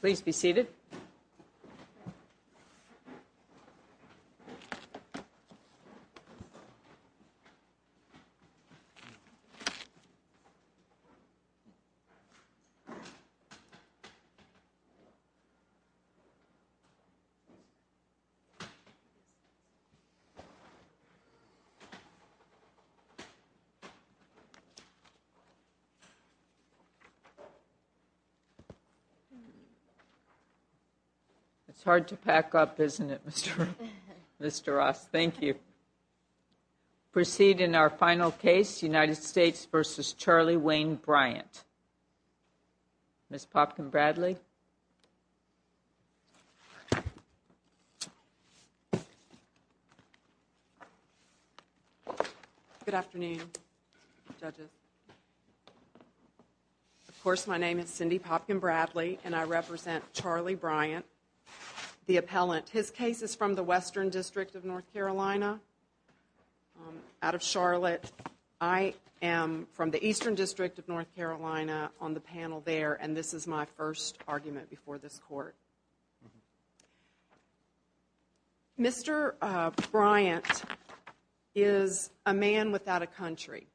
Please be seated. It's hard to pack up, isn't it, Mr. Ross? Thank you. Proceed in our final case, United States v. Charlie Wayne Bryant. Ms. Popkin-Bradley Good afternoon, judges. Of course, my name is Cindy Popkin-Bradley, and I represent Charlie Bryant, the appellant. His case is from the Western District of North Carolina, out of Charlotte. I am from the Eastern District of North Carolina on the panel there, and this is my first argument before this court. Mr. Bryant is a man without a country.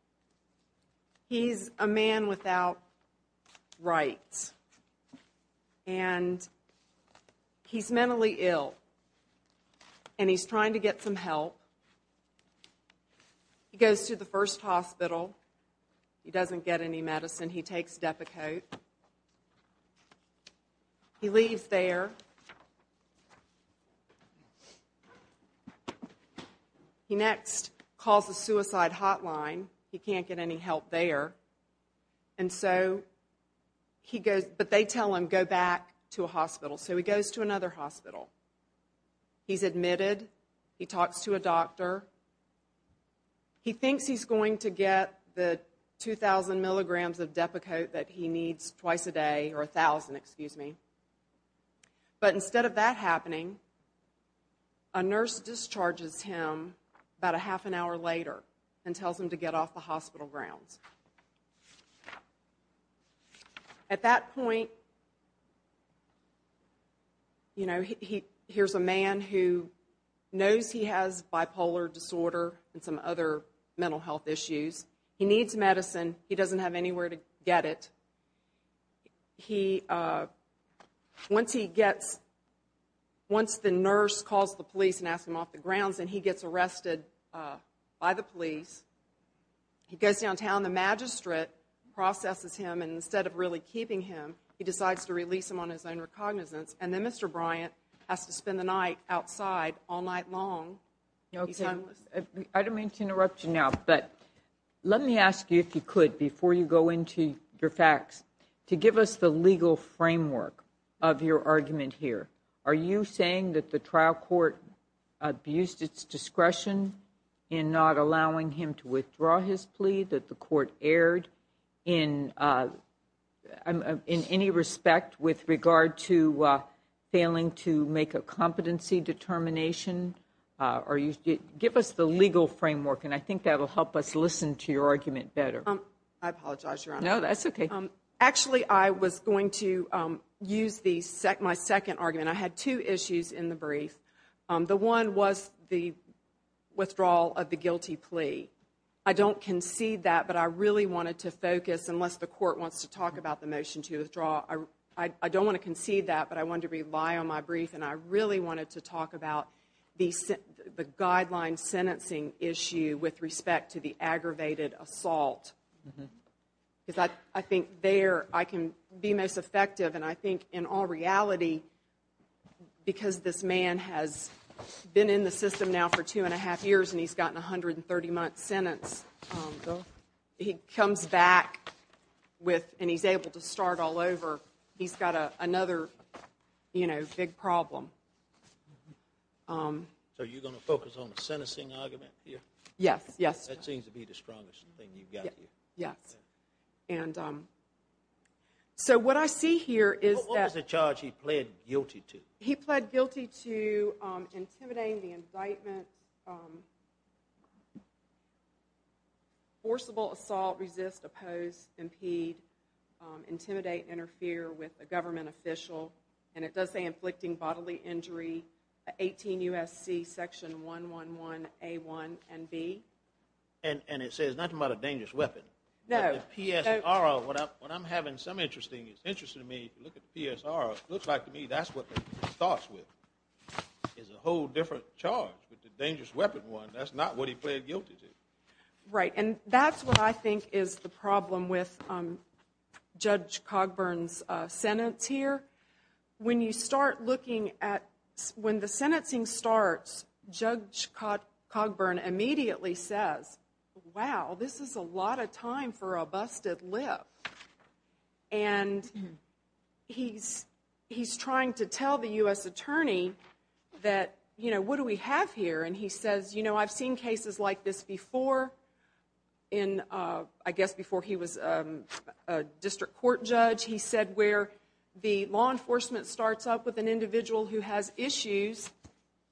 He's a man without rights, and he's mentally ill, and he's trying to get some help. He goes to the first hospital. He doesn't get any medicine. He takes Depakote. He leaves there. He next calls the suicide hotline. He can't get any help there. And so he goes, but they tell him, go back to a hospital. So he goes to another hospital. He's admitted. He talks to a doctor. He thinks he's going to get the 2,000 milligrams of Depakote that he needs twice a day, or 1,000, excuse me. But instead of that happening, a nurse discharges him about a half an hour later and tells him to get off the hospital grounds. At that point, you know, here's a man who knows he has bipolar disorder and some other mental health issues. He needs medicine. He doesn't have anywhere to get it. He, once he gets, once the nurse calls the police and asks him off the grounds and he gets arrested by the police, he goes downtown, the magistrate processes him, and instead of really keeping him, he decides to release him on his own recognizance. And then Mr. Bryant has to spend the night outside all night long. I don't mean to interrupt you now, but let me ask you, if you could, before you go into your facts, to give us the legal framework of your argument here. Are you saying that the trial court abused its discretion in not allowing him to withdraw his plea, that the court erred in any respect with regard to failing to make a competency determination? Give us the legal framework, and I think that will help us listen to your argument better. I apologize, Your Honor. No, that's okay. Actually, I was going to use my second argument. I had two issues in the brief. The one was the withdrawal of the guilty plea. I don't concede that, but I really wanted to focus, unless the court wants to talk about the motion to withdraw, I don't want to concede that, but I wanted to rely on my brief, and I really wanted to talk about the guideline sentencing issue with respect to the aggravated assault. I think there I can be most effective, and I think in all reality, because this man has been in the system now for two and a half years and he's gotten a 130-month sentence, he comes back and he's able to start all over. He's got another big problem. So you're going to focus on the sentencing argument here? Yes. That seems to be the strongest thing you've got here. Yes. So what I see here is that- What was the charge he pled guilty to? He pled guilty to intimidating the indictment, forcible assault, resist, oppose, impede, intimidate, interfere with a government official, and it does say inflicting bodily injury, 18 U.S.C. section 111A1 and B. And it says nothing about a dangerous weapon. No. But the PSR, what I'm having some interest in, it's interesting to me, if you look at the PSR, it looks like to me that's what he starts with. It's a whole different charge, but the dangerous weapon one, that's not what he pled guilty to. Right. And that's what I think is the problem with Judge Cogburn's sentence here. When you start looking at when the sentencing starts, Judge Cogburn immediately says, wow, this is a lot of time for a busted lip. And he's trying to tell the U.S. attorney that, you know, what do we have here? And he says, you know, I've seen cases like this before in, I guess, before he was a district court judge. He said where the law enforcement starts up with an individual who has issues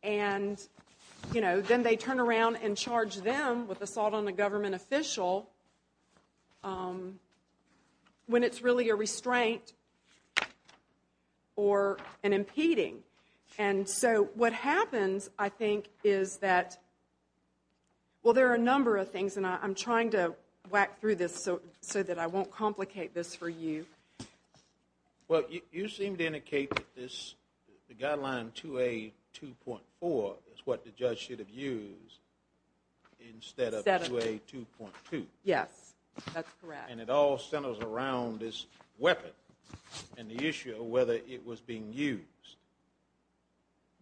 and, you know, then they turn around and charge them with assault on a government official when it's really a restraint or an impeding. And so what happens, I think, is that, well, there are a number of things, and I'm trying to whack through this so that I won't complicate this for you. Well, you seem to indicate that the guideline 2A.2.4 is what the judge should have used instead of 2A.2.2. Yes, that's correct. And it all centers around this weapon and the issue of whether it was being used.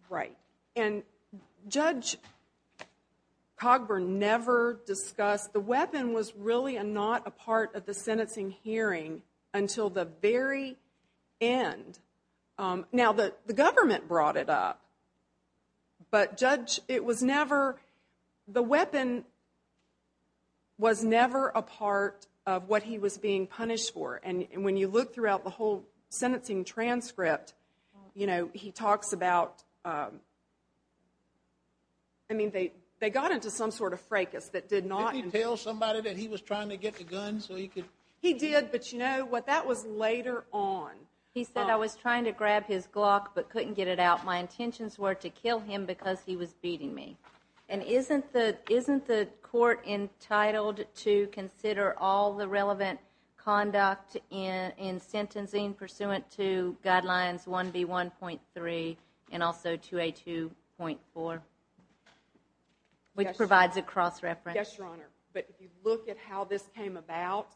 Right. And Judge Cogburn never discussed the weapon was really not a part of the sentencing hearing until the very end. Now, the government brought it up. But, Judge, it was never, the weapon was never a part of what he was being punished for. And when you look throughout the whole sentencing transcript, you know, he talks about, I mean, they got into some sort of fracas that did not. Did he tell somebody that he was trying to get the gun so he could? He did, but, you know, what that was later on. He said, I was trying to grab his Glock but couldn't get it out. My intentions were to kill him because he was beating me. And isn't the court entitled to consider all the relevant conduct in sentencing pursuant to Guidelines 1B.1.3 and also 2A.2.4, which provides a cross-reference? Yes, Your Honor. But if you look at how this came about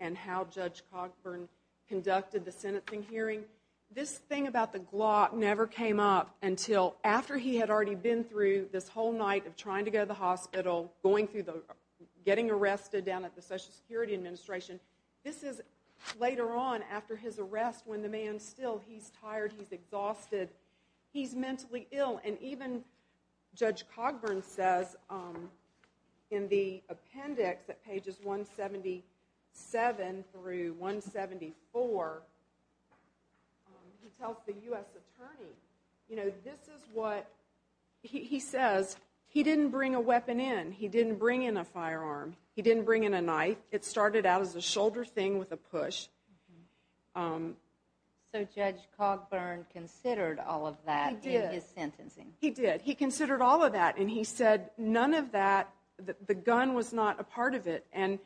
and how Judge Cogburn conducted the sentencing hearing, this thing about the Glock never came up until after he had already been through this whole night of trying to go to the hospital, going through the, getting arrested down at the Social Security Administration. This is later on after his arrest when the man's still, he's tired, he's exhausted, he's mentally ill. And even Judge Cogburn says in the appendix at pages 177 through 174, he tells the U.S. attorney, you know, this is what, he says, he didn't bring a weapon in. He didn't bring in a firearm. He didn't bring in a knife. It started out as a shoulder thing with a push. So Judge Cogburn considered all of that in his sentencing? He did. He did. He considered all of that, and he said none of that, the gun was not a part of it. And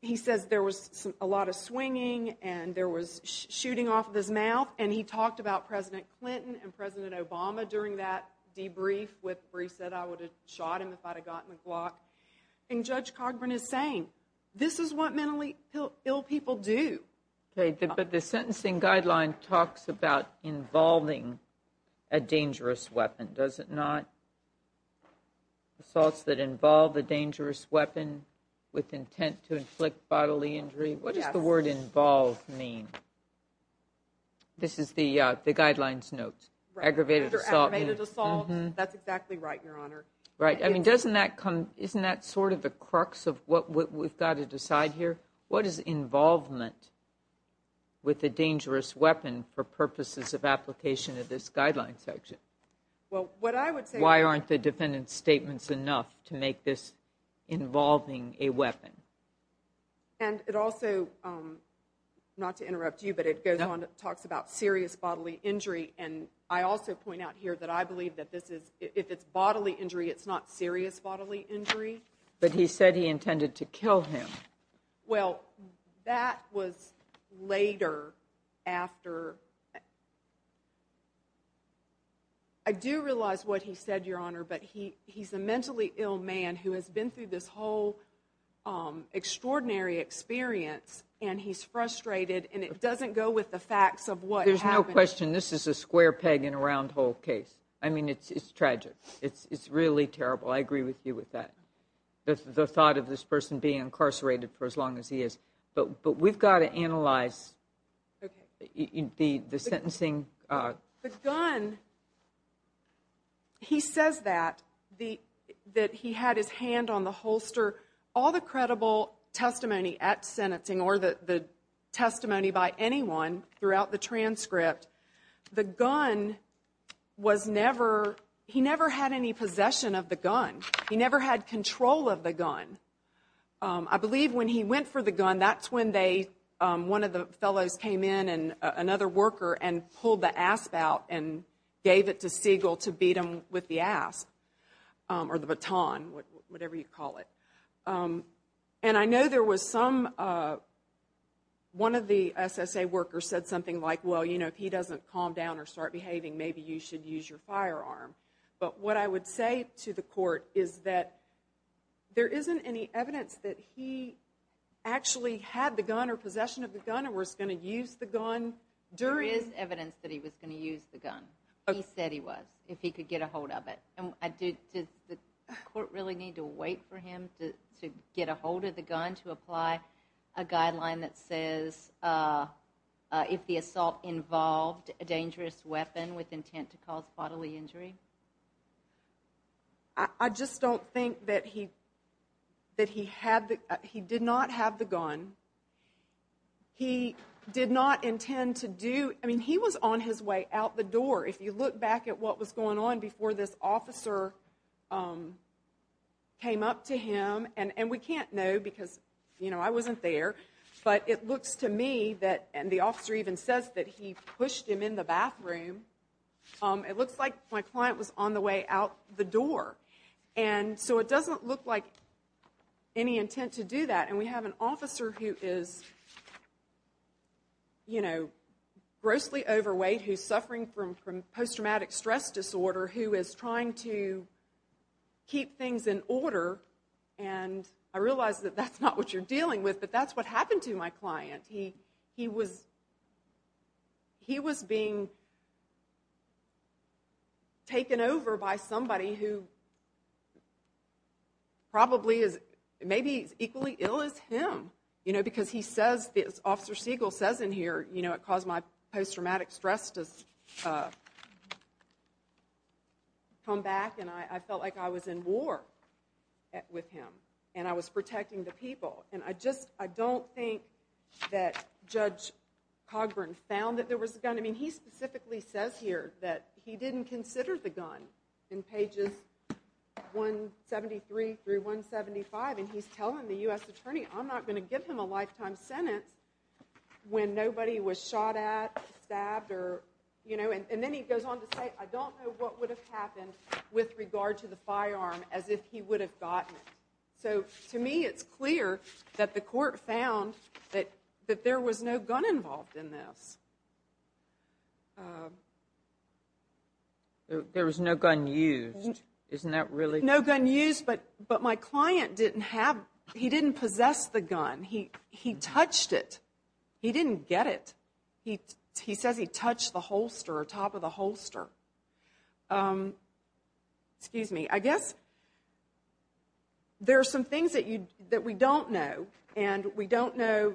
he says there was a lot of swinging and there was shooting off of his mouth, and he talked about President Clinton and President Obama during that debrief where he said I would have shot him if I had gotten the Glock. And Judge Cogburn is saying this is what mentally ill people do. Okay. But the sentencing guideline talks about involving a dangerous weapon, does it not? Assaults that involve a dangerous weapon with intent to inflict bodily injury. What does the word involve mean? This is the guidelines note. Aggravated assault. That's exactly right, Your Honor. Right. Isn't that sort of the crux of what we've got to decide here? What is involvement with a dangerous weapon for purposes of application of this guideline section? Why aren't the defendant's statements enough to make this involving a weapon? And it also, not to interrupt you, but it talks about serious bodily injury, and I also point out here that I believe that if it's bodily injury, it's not serious bodily injury. But he said he intended to kill him. Well, that was later after. I do realize what he said, Your Honor, but he's a mentally ill man who has been through this whole extraordinary experience, and he's frustrated, and it doesn't go with the facts of what happened. There's no question this is a square peg in a round hole case. I mean, it's tragic. It's really terrible. I agree with you with that, the thought of this person being incarcerated for as long as he is. But we've got to analyze the sentencing. The gun, he says that, that he had his hand on the holster. All the credible testimony at sentencing or the testimony by anyone throughout the transcript, the gun was never, he never had any possession of the gun. He never had control of the gun. I believe when he went for the gun, that's when one of the fellows came in, another worker, and pulled the asp out and gave it to Siegel to beat him with the asp or the baton, whatever you call it. And I know there was some, one of the SSA workers said something like, well, you know, if he doesn't calm down or start behaving, maybe you should use your firearm. But what I would say to the court is that there isn't any evidence that he actually had the gun or possession of the gun or was going to use the gun during. There is evidence that he was going to use the gun. He said he was, if he could get a hold of it. And did the court really need to wait for him to get a hold of the gun to apply a guideline that says if the assault involved a dangerous weapon with intent to cause bodily injury? I just don't think that he did not have the gun. He did not intend to do, I mean, he was on his way out the door. If you look back at what was going on before this officer came up to him, and we can't know because, you know, I wasn't there. But it looks to me that, and the officer even says that he pushed him in the bathroom. It looks like my client was on the way out the door. And so it doesn't look like any intent to do that. And we have an officer who is, you know, grossly overweight, who's suffering from post-traumatic stress disorder, who is trying to keep things in order. And I realize that that's not what you're dealing with, but that's what happened to my client. He was being taken over by somebody who probably is maybe equally ill as him. You know, because he says, as Officer Siegel says in here, you know, it caused my post-traumatic stress to come back, and I felt like I was in war with him, and I was protecting the people. And I just, I don't think that Judge Cogburn found that there was a gun. I mean, he specifically says here that he didn't consider the gun in pages 173 through 175, and he's telling the U.S. Attorney, I'm not going to give him a lifetime sentence when nobody was shot at, stabbed, or, you know. And then he goes on to say, I don't know what would have happened with regard to the firearm as if he would have gotten it. So, to me, it's clear that the court found that there was no gun involved in this. There was no gun used. Isn't that really? No gun used, but my client didn't have, he didn't possess the gun. He touched it. He didn't get it. He says he touched the holster or top of the holster. Excuse me. I guess there are some things that we don't know, and we don't know,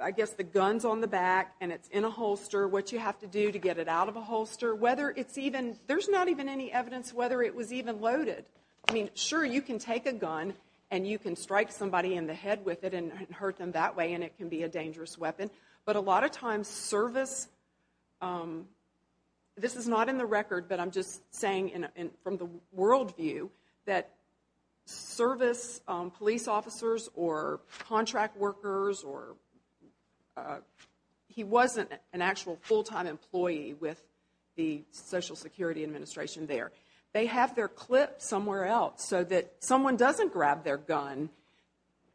I guess, the gun's on the back and it's in a holster, what you have to do to get it out of a holster. Whether it's even, there's not even any evidence whether it was even loaded. I mean, sure, you can take a gun and you can strike somebody in the head with it and hurt them that way, and it can be a dangerous weapon. But a lot of times service, this is not in the record, but I'm just saying from the world view that service police officers or contract workers or he wasn't an actual full-time employee with the Social Security Administration there. They have their clip somewhere else so that someone doesn't grab their gun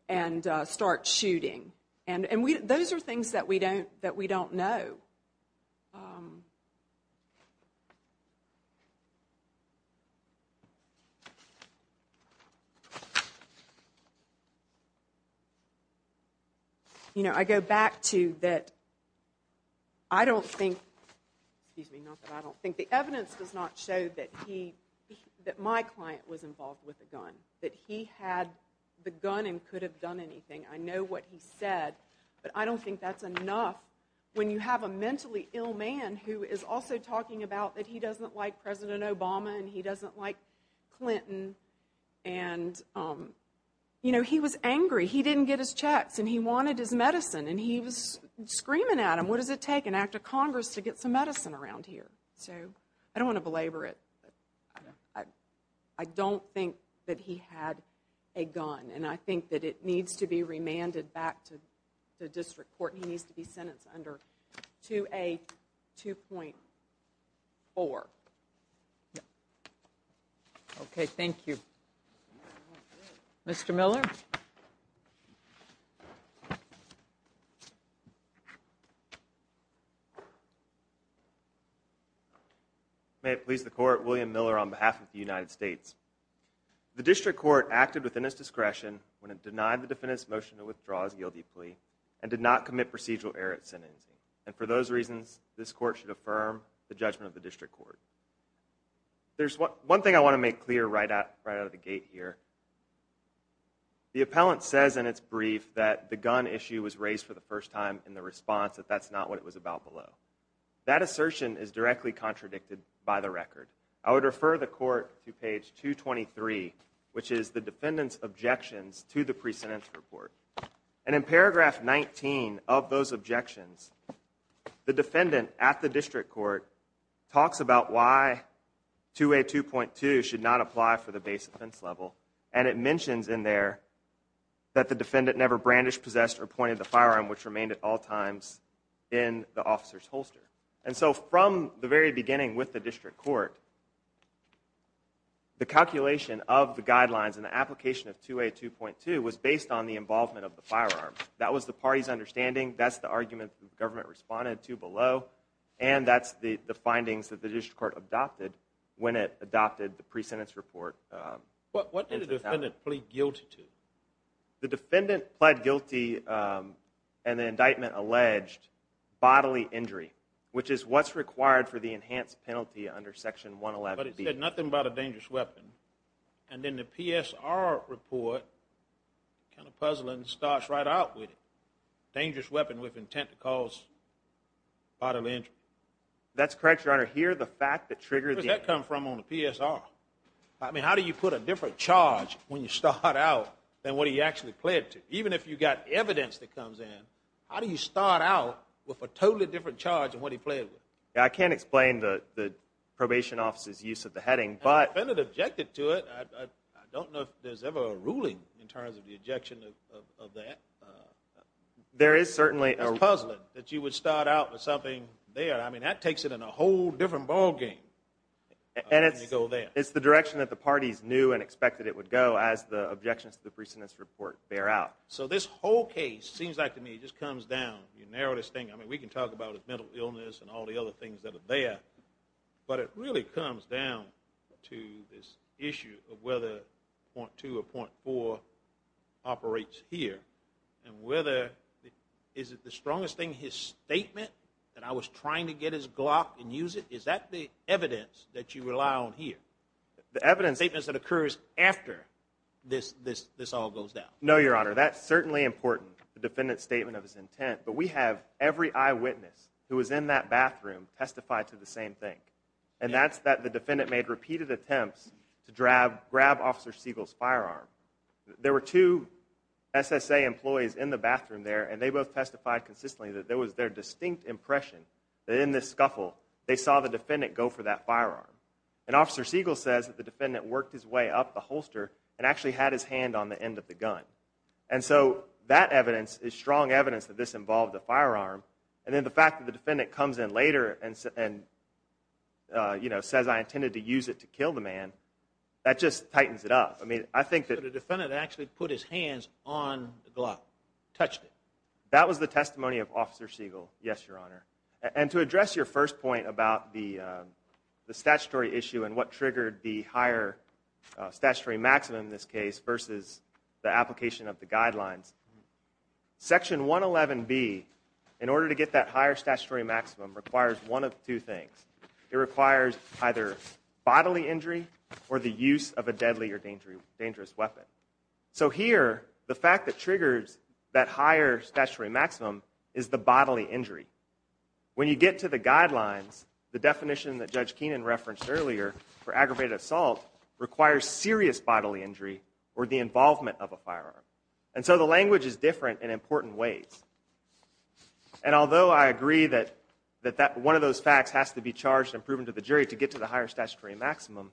and start shooting. And those are things that we don't know. You know, I go back to that I don't think, excuse me, not that I don't think, the evidence does not show that my client was involved with a gun, that he had the gun and could have done anything. I know what he said, but I don't think that's enough when you have a mentally ill man who is also talking about that he doesn't like President Obama and he doesn't like Clinton. And, you know, he was angry. He didn't get his checks and he wanted his medicine and he was screaming at him, what does it take an act of Congress to get some medicine around here? So I don't want to belabor it, but I don't think that he had a gun and I think that it needs to be remanded back to the District Court. He needs to be sentenced under 2A2.4. Okay, thank you. Mr. Miller? May it please the Court, William Miller on behalf of the United States. The District Court acted within its discretion when it denied the defendant's motion to withdraw his guilty plea and did not commit procedural error at sentencing. And for those reasons, this Court should affirm the judgment of the District Court. There's one thing I want to make clear right out of the gate here. The appellant says in its brief that the gun issue was raised for the first time in the response that that's not what it was about below. That assertion is directly contradicted by the record. I would refer the Court to page 223, which is the defendant's objections to the pre-sentence report. And in paragraph 19 of those objections, the defendant at the District Court talks about why 2A2.2 should not apply for the base offense level. And it mentions in there that the defendant never brandished, possessed, or pointed the firearm, which remained at all times in the officer's holster. And so from the very beginning with the District Court, the calculation of the guidelines and the application of 2A2.2 was based on the involvement of the firearm. That was the party's understanding. That's the argument the government responded to below. And that's the findings that the District Court adopted when it adopted the pre-sentence report. What did the defendant plead guilty to? The defendant pled guilty in the indictment alleged bodily injury, which is what's required for the enhanced penalty under Section 111B. But it said nothing about a dangerous weapon. And then the PSR report kind of puzzles and starts right out with it. Dangerous weapon with intent to cause bodily injury. That's correct, Your Honor. Here, the fact that triggered the... Where does that come from on the PSR? I mean, how do you put a different charge when you start out than what he actually pled to? Even if you've got evidence that comes in, how do you start out with a totally different charge than what he pled with? I can't explain the probation officer's use of the heading, but... The defendant objected to it. I don't know if there's ever a ruling in terms of the objection of that. There is certainly a... It's puzzling that you would start out with something there. I mean, that takes it in a whole different ballgame. And it's the direction that the parties knew and expected it would go as the objections to the precedence report bear out. So this whole case, it seems like to me, just comes down. You narrow this thing. I mean, we can talk about his mental illness and all the other things that are there. But it really comes down to this issue of whether .2 or .4 operates here. And whether... Is it the strongest thing, his statement, that I was trying to get his glock and use it? Is that the evidence that you rely on here? The evidence... Statements that occurs after this all goes down. No, Your Honor. That's certainly important, the defendant's statement of his intent. But we have every eyewitness who was in that bathroom testify to the same thing. And that's that the defendant made repeated attempts to grab Officer Siegel's firearm. There were two SSA employees in the bathroom there, and they both testified consistently that it was their distinct impression that in this scuffle they saw the defendant go for that firearm. And Officer Siegel says that the defendant worked his way up the holster and actually had his hand on the end of the gun. And so that evidence is strong evidence that this involved a firearm. And then the fact that the defendant comes in later and says, I intended to use it to kill the man, that just tightens it up. I mean, I think that... So the defendant actually put his hands on the glock, touched it. That was the testimony of Officer Siegel, yes, Your Honor. And to address your first point about the statutory issue and what triggered the higher statutory maximum in this case versus the application of the guidelines, Section 111B, in order to get that higher statutory maximum, requires one of two things. It requires either bodily injury or the use of a deadly or dangerous weapon. So here, the fact that triggers that higher statutory maximum is the bodily injury. When you get to the guidelines, the definition that Judge Keenan referenced earlier for aggravated assault requires serious bodily injury or the involvement of a firearm. And so the language is different in important ways. And although I agree that one of those facts has to be charged and proven to the jury to get to the higher statutory maximum,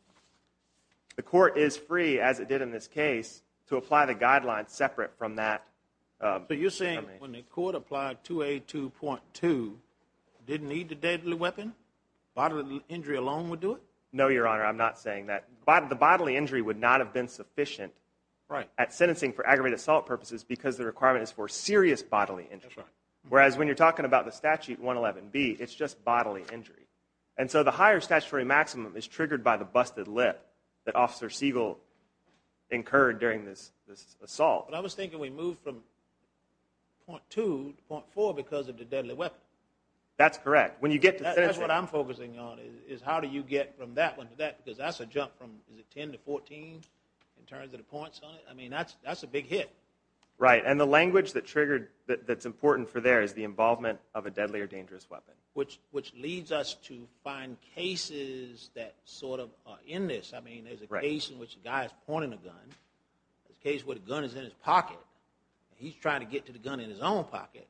the court is free, as it did in this case, to apply the guidelines separate from that. But you're saying when the court applied 2A2.2, didn't need the deadly weapon? Bodily injury alone would do it? No, Your Honor, I'm not saying that. The bodily injury would not have been sufficient at sentencing for aggravated assault purposes because the requirement is for serious bodily injury. Whereas when you're talking about the statute 111B, it's just bodily injury. And so the higher statutory maximum is triggered by the busted lip that Officer Siegel incurred during this assault. But I was thinking we moved from .2 to .4 because of the deadly weapon. That's correct. That's what I'm focusing on is how do you get from that one to that because that's a jump from, is it 10 to 14 in terms of the points on it? I mean, that's a big hit. Right, and the language that's important for there is the involvement of a deadly or dangerous weapon. Which leads us to find cases that sort of are in this. I mean, there's a case in which a guy is pointing a gun. There's a case where the gun is in his pocket. He's trying to get to the gun in his own pocket.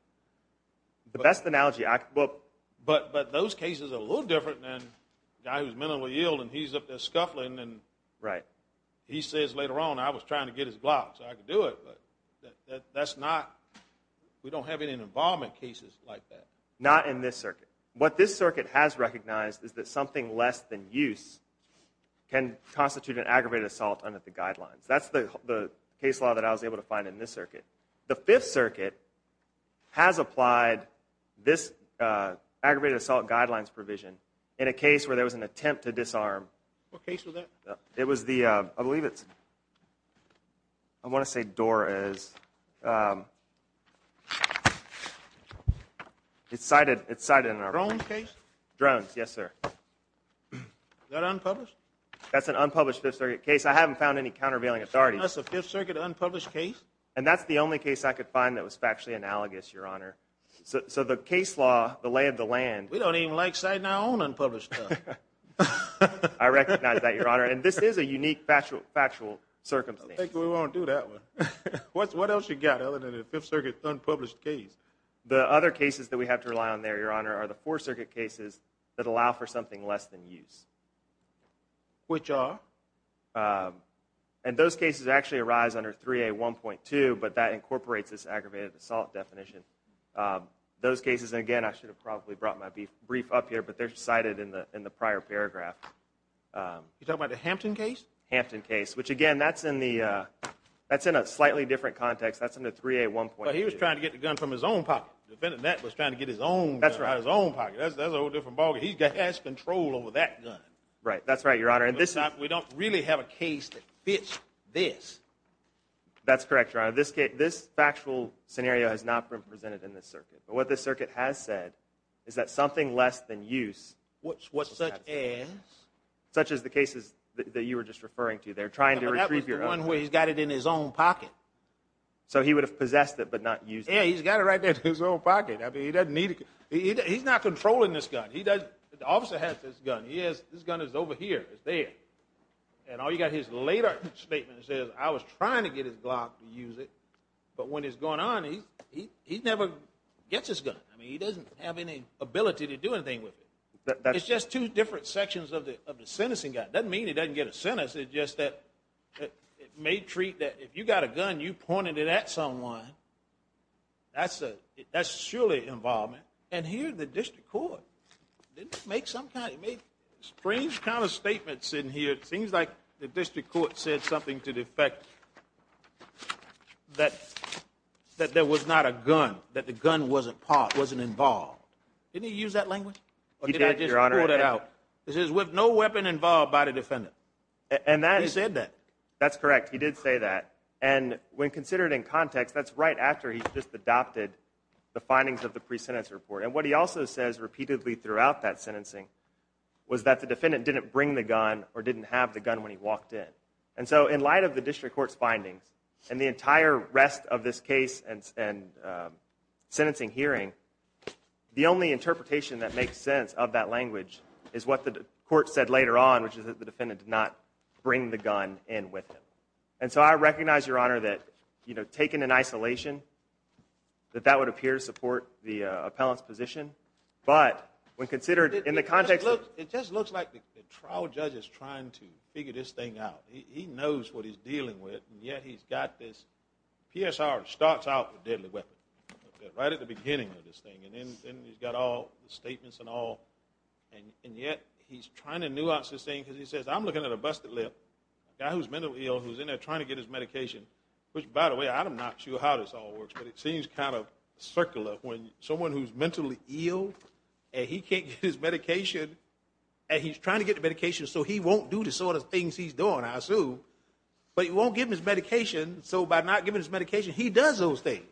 The best analogy I can think of. But those cases are a little different than a guy who's mentally ill and he's up there scuffling and he says later on, I was trying to get his glove so I could do it. That's not, we don't have any involvement cases like that. Not in this circuit. What this circuit has recognized is that something less than use can constitute an aggravated assault under the guidelines. That's the case law that I was able to find in this circuit. The Fifth Circuit has applied this aggravated assault guidelines provision in a case where there was an attempt to disarm. What case was that? It was the, I believe it's, I want to say Doris. It's cited in our report. Drones case? Drones, yes, sir. That unpublished? That's an unpublished Fifth Circuit case. I haven't found any countervailing authorities. That's a Fifth Circuit unpublished case? And that's the only case I could find that was factually analogous, Your Honor. So the case law, the lay of the land. We don't even like citing our own unpublished stuff. I recognize that, Your Honor. And this is a unique factual circumstance. I don't think we want to do that one. What else you got other than a Fifth Circuit unpublished case? The other cases that we have to rely on there, Your Honor, are the Fourth Circuit cases that allow for something less than use. Which are? And those cases actually arise under 3A1.2, but that incorporates this aggravated assault definition. Those cases, again, I should have probably brought my brief up here, but they're cited in the prior paragraph. You're talking about the Hampton case? Hampton case. Which, again, that's in a slightly different context. That's under 3A1.2. But he was trying to get the gun from his own pocket. Defending that was trying to get his own gun out of his own pocket. That's a whole different ballgame. He has control over that gun. Right. That's right, Your Honor. We don't really have a case that fits this. That's correct, Your Honor. This factual scenario has not been presented in this circuit. But what this circuit has said is that something less than use. Such as? Such as the cases that you were just referring to there, trying to retrieve your own gun. That was the one where he's got it in his own pocket. So he would have possessed it but not used it? Yeah, he's got it right there in his own pocket. He's not controlling this gun. The officer has this gun. This gun is over here. It's there. And all you've got is his later statement that says, I was trying to get his Glock to use it, but when it's going on, he never gets his gun. I mean, he doesn't have any ability to do anything with it. It's just two different sections of the sentencing guide. It doesn't mean he doesn't get a sentence. It's just that it may treat that if you've got a gun, you pointed it at someone. That's surely involvement. And here the district court didn't make some kind of strange kind of statements in here. It seems like the district court said something to the effect that there was not a gun, that the gun wasn't involved. Didn't he use that language? He did, Your Honor. Or did I just pull that out? It says, with no weapon involved by the defendant. He said that. That's correct. He did say that. And when considered in context, that's right after he's just adopted the findings of the pre-sentence report. And what he also says repeatedly throughout that sentencing was that the defendant didn't have the gun when he walked in. And so in light of the district court's findings, and the entire rest of this case and sentencing hearing, the only interpretation that makes sense of that language is what the court said later on, which is that the defendant did not bring the gun in with him. And so I recognize, Your Honor, that taken in isolation, that that would appear to support the appellant's position. But when considered in the context of the trial, this looks like the trial judge is trying to figure this thing out. He knows what he's dealing with, and yet he's got this. PSR starts out with deadly weapon, right at the beginning of this thing. And then he's got all the statements and all. And yet he's trying to nuance this thing because he says, I'm looking at a busted lip, a guy who's mentally ill, who's in there trying to get his medication. Which, by the way, I'm not sure how this all works, but it seems kind of circular when someone who's mentally ill and he can't get his medication, and he's trying to get the medication so he won't do the sort of things he's doing, I assume, but he won't give him his medication. So by not giving his medication, he does those things.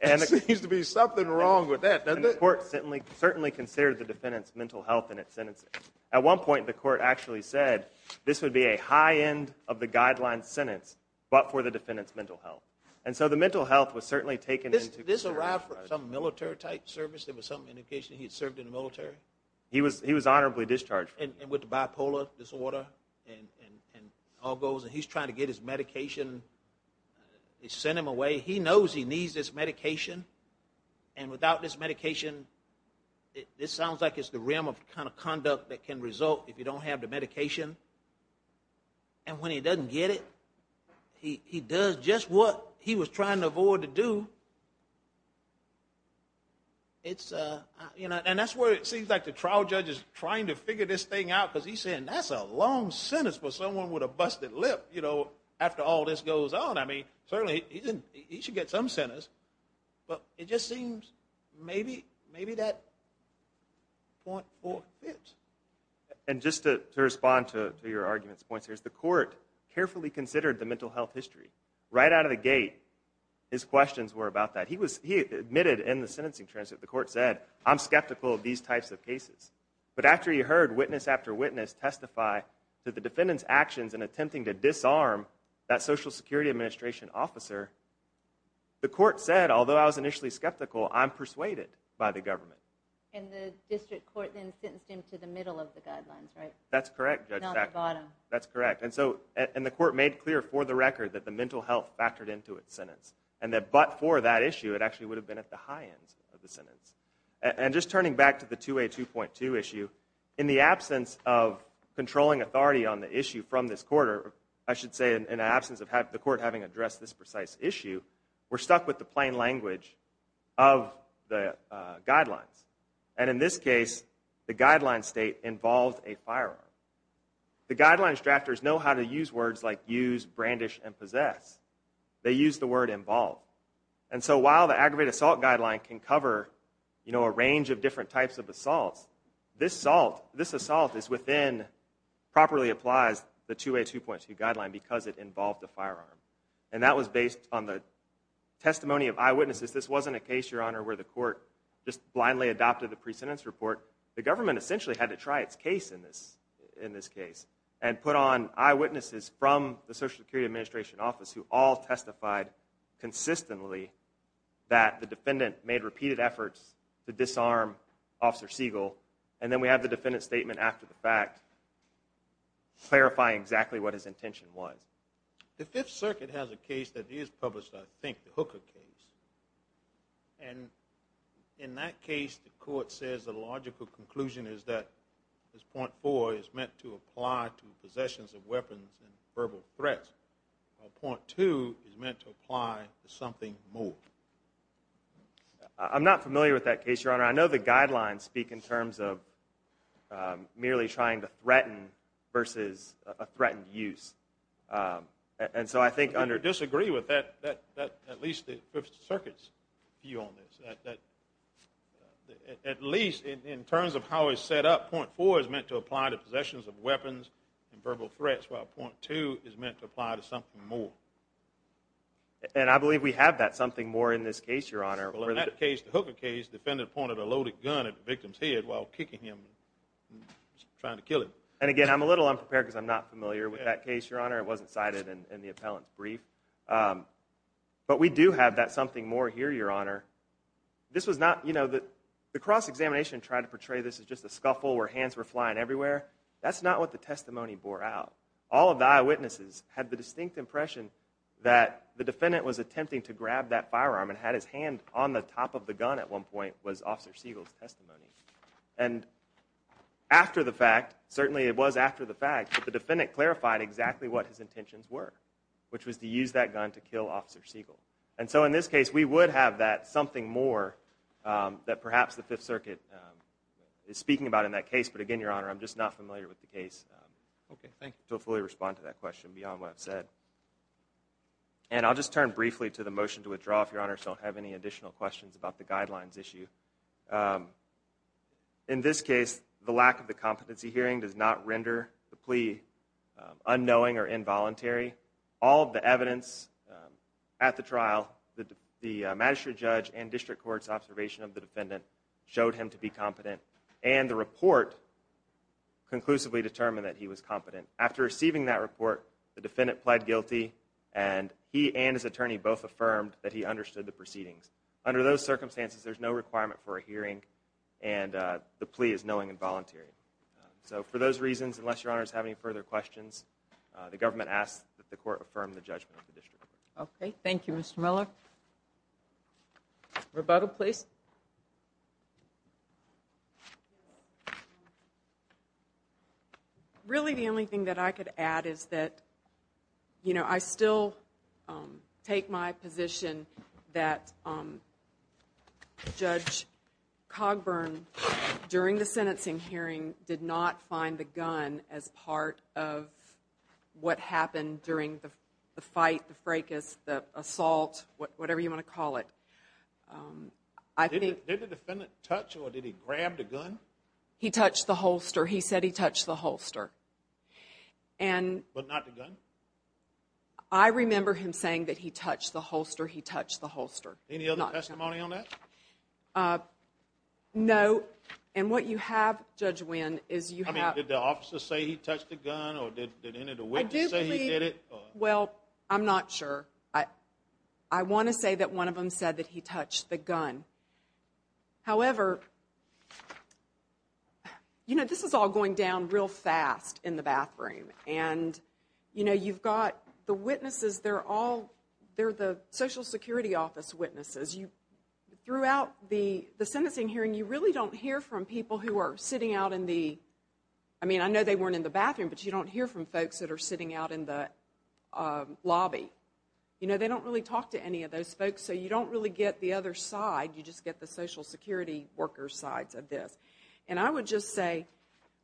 There seems to be something wrong with that, doesn't it? The court certainly considered the defendant's mental health in its sentencing. At one point the court actually said this would be a high end of the guideline sentence but for the defendant's mental health. And so the mental health was certainly taken into consideration. Did this arrive from some military type service? There was some indication he had served in the military? He was honorably discharged. And with the bipolar disorder and all those, and he's trying to get his medication, they sent him away. He knows he needs this medication, and without this medication, this sounds like it's the realm of conduct that can result if you don't have the medication. And when he doesn't get it, he does just what he was trying to avoid to do. And that's where it seems like the trial judge is trying to figure this thing out because he's saying that's a long sentence for someone with a busted lip, you know, after all this goes on. I mean, certainly he should get some sentence, but it just seems maybe that .4 fits. And just to respond to your argument's point, the court carefully considered the mental health history. Right out of the gate, his questions were about that. He admitted in the sentencing transcript, the court said, I'm skeptical of these types of cases. But after he heard witness after witness testify to the defendant's actions in attempting to disarm that Social Security Administration officer, the court said, although I was initially skeptical, I'm persuaded by the government. And the district court then sentenced him to the middle of the guidelines, right? That's correct, Judge Sackler. Not the bottom. That's correct. And the court made clear for the record that the mental health factored into its sentence and that but for that issue, it actually would have been at the high ends of the sentence. And just turning back to the 2A2.2 issue, in the absence of controlling authority on the issue from this court, I should say in the absence of the court having addressed this precise issue, we're stuck with the plain language of the guidelines. And in this case, the guideline state involves a firearm. The guidelines drafters know how to use words like use, brandish, and possess. They use the word involve. And so while the aggravated assault guideline can cover, you know, a range of different types of assaults, this assault is within, properly applies the 2A2.2 guideline because it involved a firearm. And that was based on the testimony of eyewitnesses. This wasn't a case, Your Honor, where the court just blindly adopted the pre-sentence report. The government essentially had to try its case in this case and put on eyewitnesses from the Social Security Administration Office who all testified consistently that the defendant made repeated efforts to disarm Officer Siegel. And then we have the defendant's statement after the fact clarifying exactly what his intention was. The Fifth Circuit has a case that is published, I think, the Hooker case. And in that case, the court says the logical conclusion is that this .4 is meant to apply to possessions of weapons and verbal threats, while .2 is meant to apply to something more. I'm not familiar with that case, Your Honor. I know the guidelines speak in terms of merely trying to threaten versus a threatened use. And so I think under... I disagree with that, at least the Fifth Circuit's view on this. At least in terms of how it's set up, .4 is meant to apply to possessions of weapons and verbal threats, while .2 is meant to apply to something more. And I believe we have that something more in this case, Your Honor. Well, in that case, the Hooker case, the defendant pointed a loaded gun at the victim's head while kicking him and trying to kill him. And again, I'm a little unprepared because I'm not familiar with that case, Your Honor. It wasn't cited in the appellant's brief. But we do have that something more here, Your Honor. This was not... The cross-examination tried to portray this as just a scuffle where hands were flying everywhere. That's not what the testimony bore out. All of the eyewitnesses had the distinct impression that the defendant was attempting to grab that firearm and had his hand on the top of the gun at one point was Officer Siegel's testimony. And after the fact, certainly it was after the fact, but the defendant clarified exactly what his intentions were, which was to use that gun to kill Officer Siegel. And so in this case, we would have that something more that perhaps the Fifth Circuit is speaking about in that case. But again, Your Honor, I'm just not familiar with the case... Okay, thank you. ...to fully respond to that question beyond what I've said. And I'll just turn briefly to the motion to withdraw if Your Honor still have any additional questions about the guidelines issue. In this case, the lack of the competency hearing does not render the plea unknowing or involuntary. All of the evidence at the trial, the magistrate judge and district court's observation of the defendant showed him to be competent, and the report conclusively determined that he was competent. After receiving that report, the defendant pled guilty, and he and his attorney both affirmed that he understood the proceedings. Under those circumstances, there's no requirement for a hearing, and the plea is knowing and voluntary. So for those reasons, unless Your Honor has any further questions, the government asks that the court affirm the judgment of the district court. Okay, thank you, Mr. Miller. Roberto, please. Really, the only thing that I could add is that, you know, I still take my position that Judge Cogburn, during the sentencing hearing, did not find the gun as part of what happened during the fight, the fracas, the assault, whatever you want to call it. Did the defendant touch or did he grab the gun? He touched the holster. He said he touched the holster. But not the gun? I remember him saying that he touched the holster. He touched the holster, not the gun. Any other testimony on that? No, and what you have, Judge Winn, is you have... I mean, did the officer say he touched the gun, or did any of the witnesses say he did it? Well, I'm not sure. I want to say that one of them said that he touched the gun. However, you know, this is all going down real fast in the bathroom, and, you know, you've got the witnesses, they're all... they're the Social Security Office witnesses. Throughout the sentencing hearing, you really don't hear from people who are sitting out in the... I mean, I know they weren't in the bathroom, but you don't hear from folks that are sitting out in the lobby. You know, they don't really talk to any of those folks, so you don't really get the other side. You just get the Social Security workers' sides of this. And I would just say,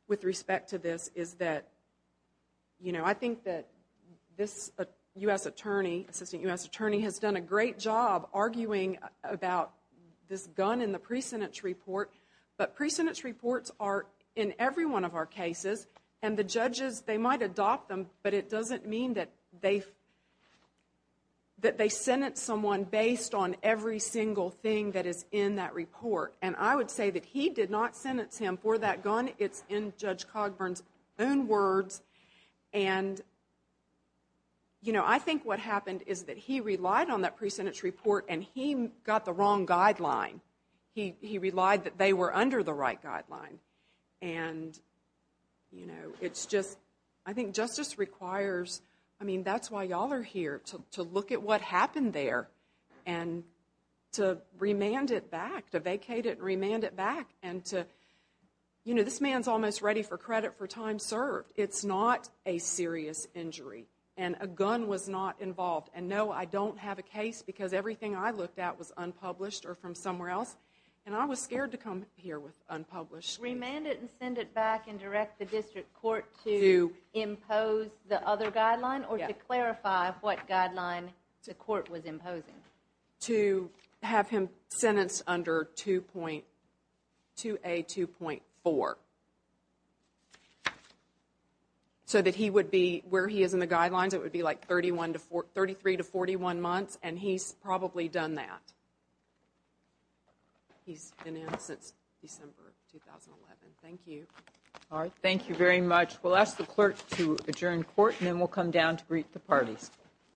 with respect to this, is that, you know, I think that this U.S. attorney, Assistant U.S. Attorney, has done a great job arguing about this gun in the pre-sentence report, but pre-sentence reports are in every one of our cases, and the judges, they might adopt them, but it doesn't mean that they've... that they sentence someone based on every single thing that is in that report, and I would say that he did not sentence him for that gun. It's in Judge Cogburn's own words, and, you know, I think what happened is that he relied on that pre-sentence report, and he got the wrong guideline. He relied that they were under the right guideline, and, you know, it's just... I think justice requires... I mean, that's why y'all are here, to look at what happened there and to remand it back, to vacate it and remand it back, and to... You know, this man's almost ready for credit for time served. It's not a serious injury, and a gun was not involved, and no, I don't have a case because everything I looked at was unpublished or from somewhere else, and I was scared to come here with unpublished... Remand it and send it back and direct the district court to impose the other guideline or to clarify what guideline the court was imposing. To have him sentenced under 2.... 2A2.4. So that he would be... Where he is in the guidelines, it would be, like, 31 to... 33 to 41 months, and he's probably done that. He's been in since December 2011. Thank you. All right, thank you very much. We'll ask the clerk to adjourn court, and then we'll come down to greet the parties.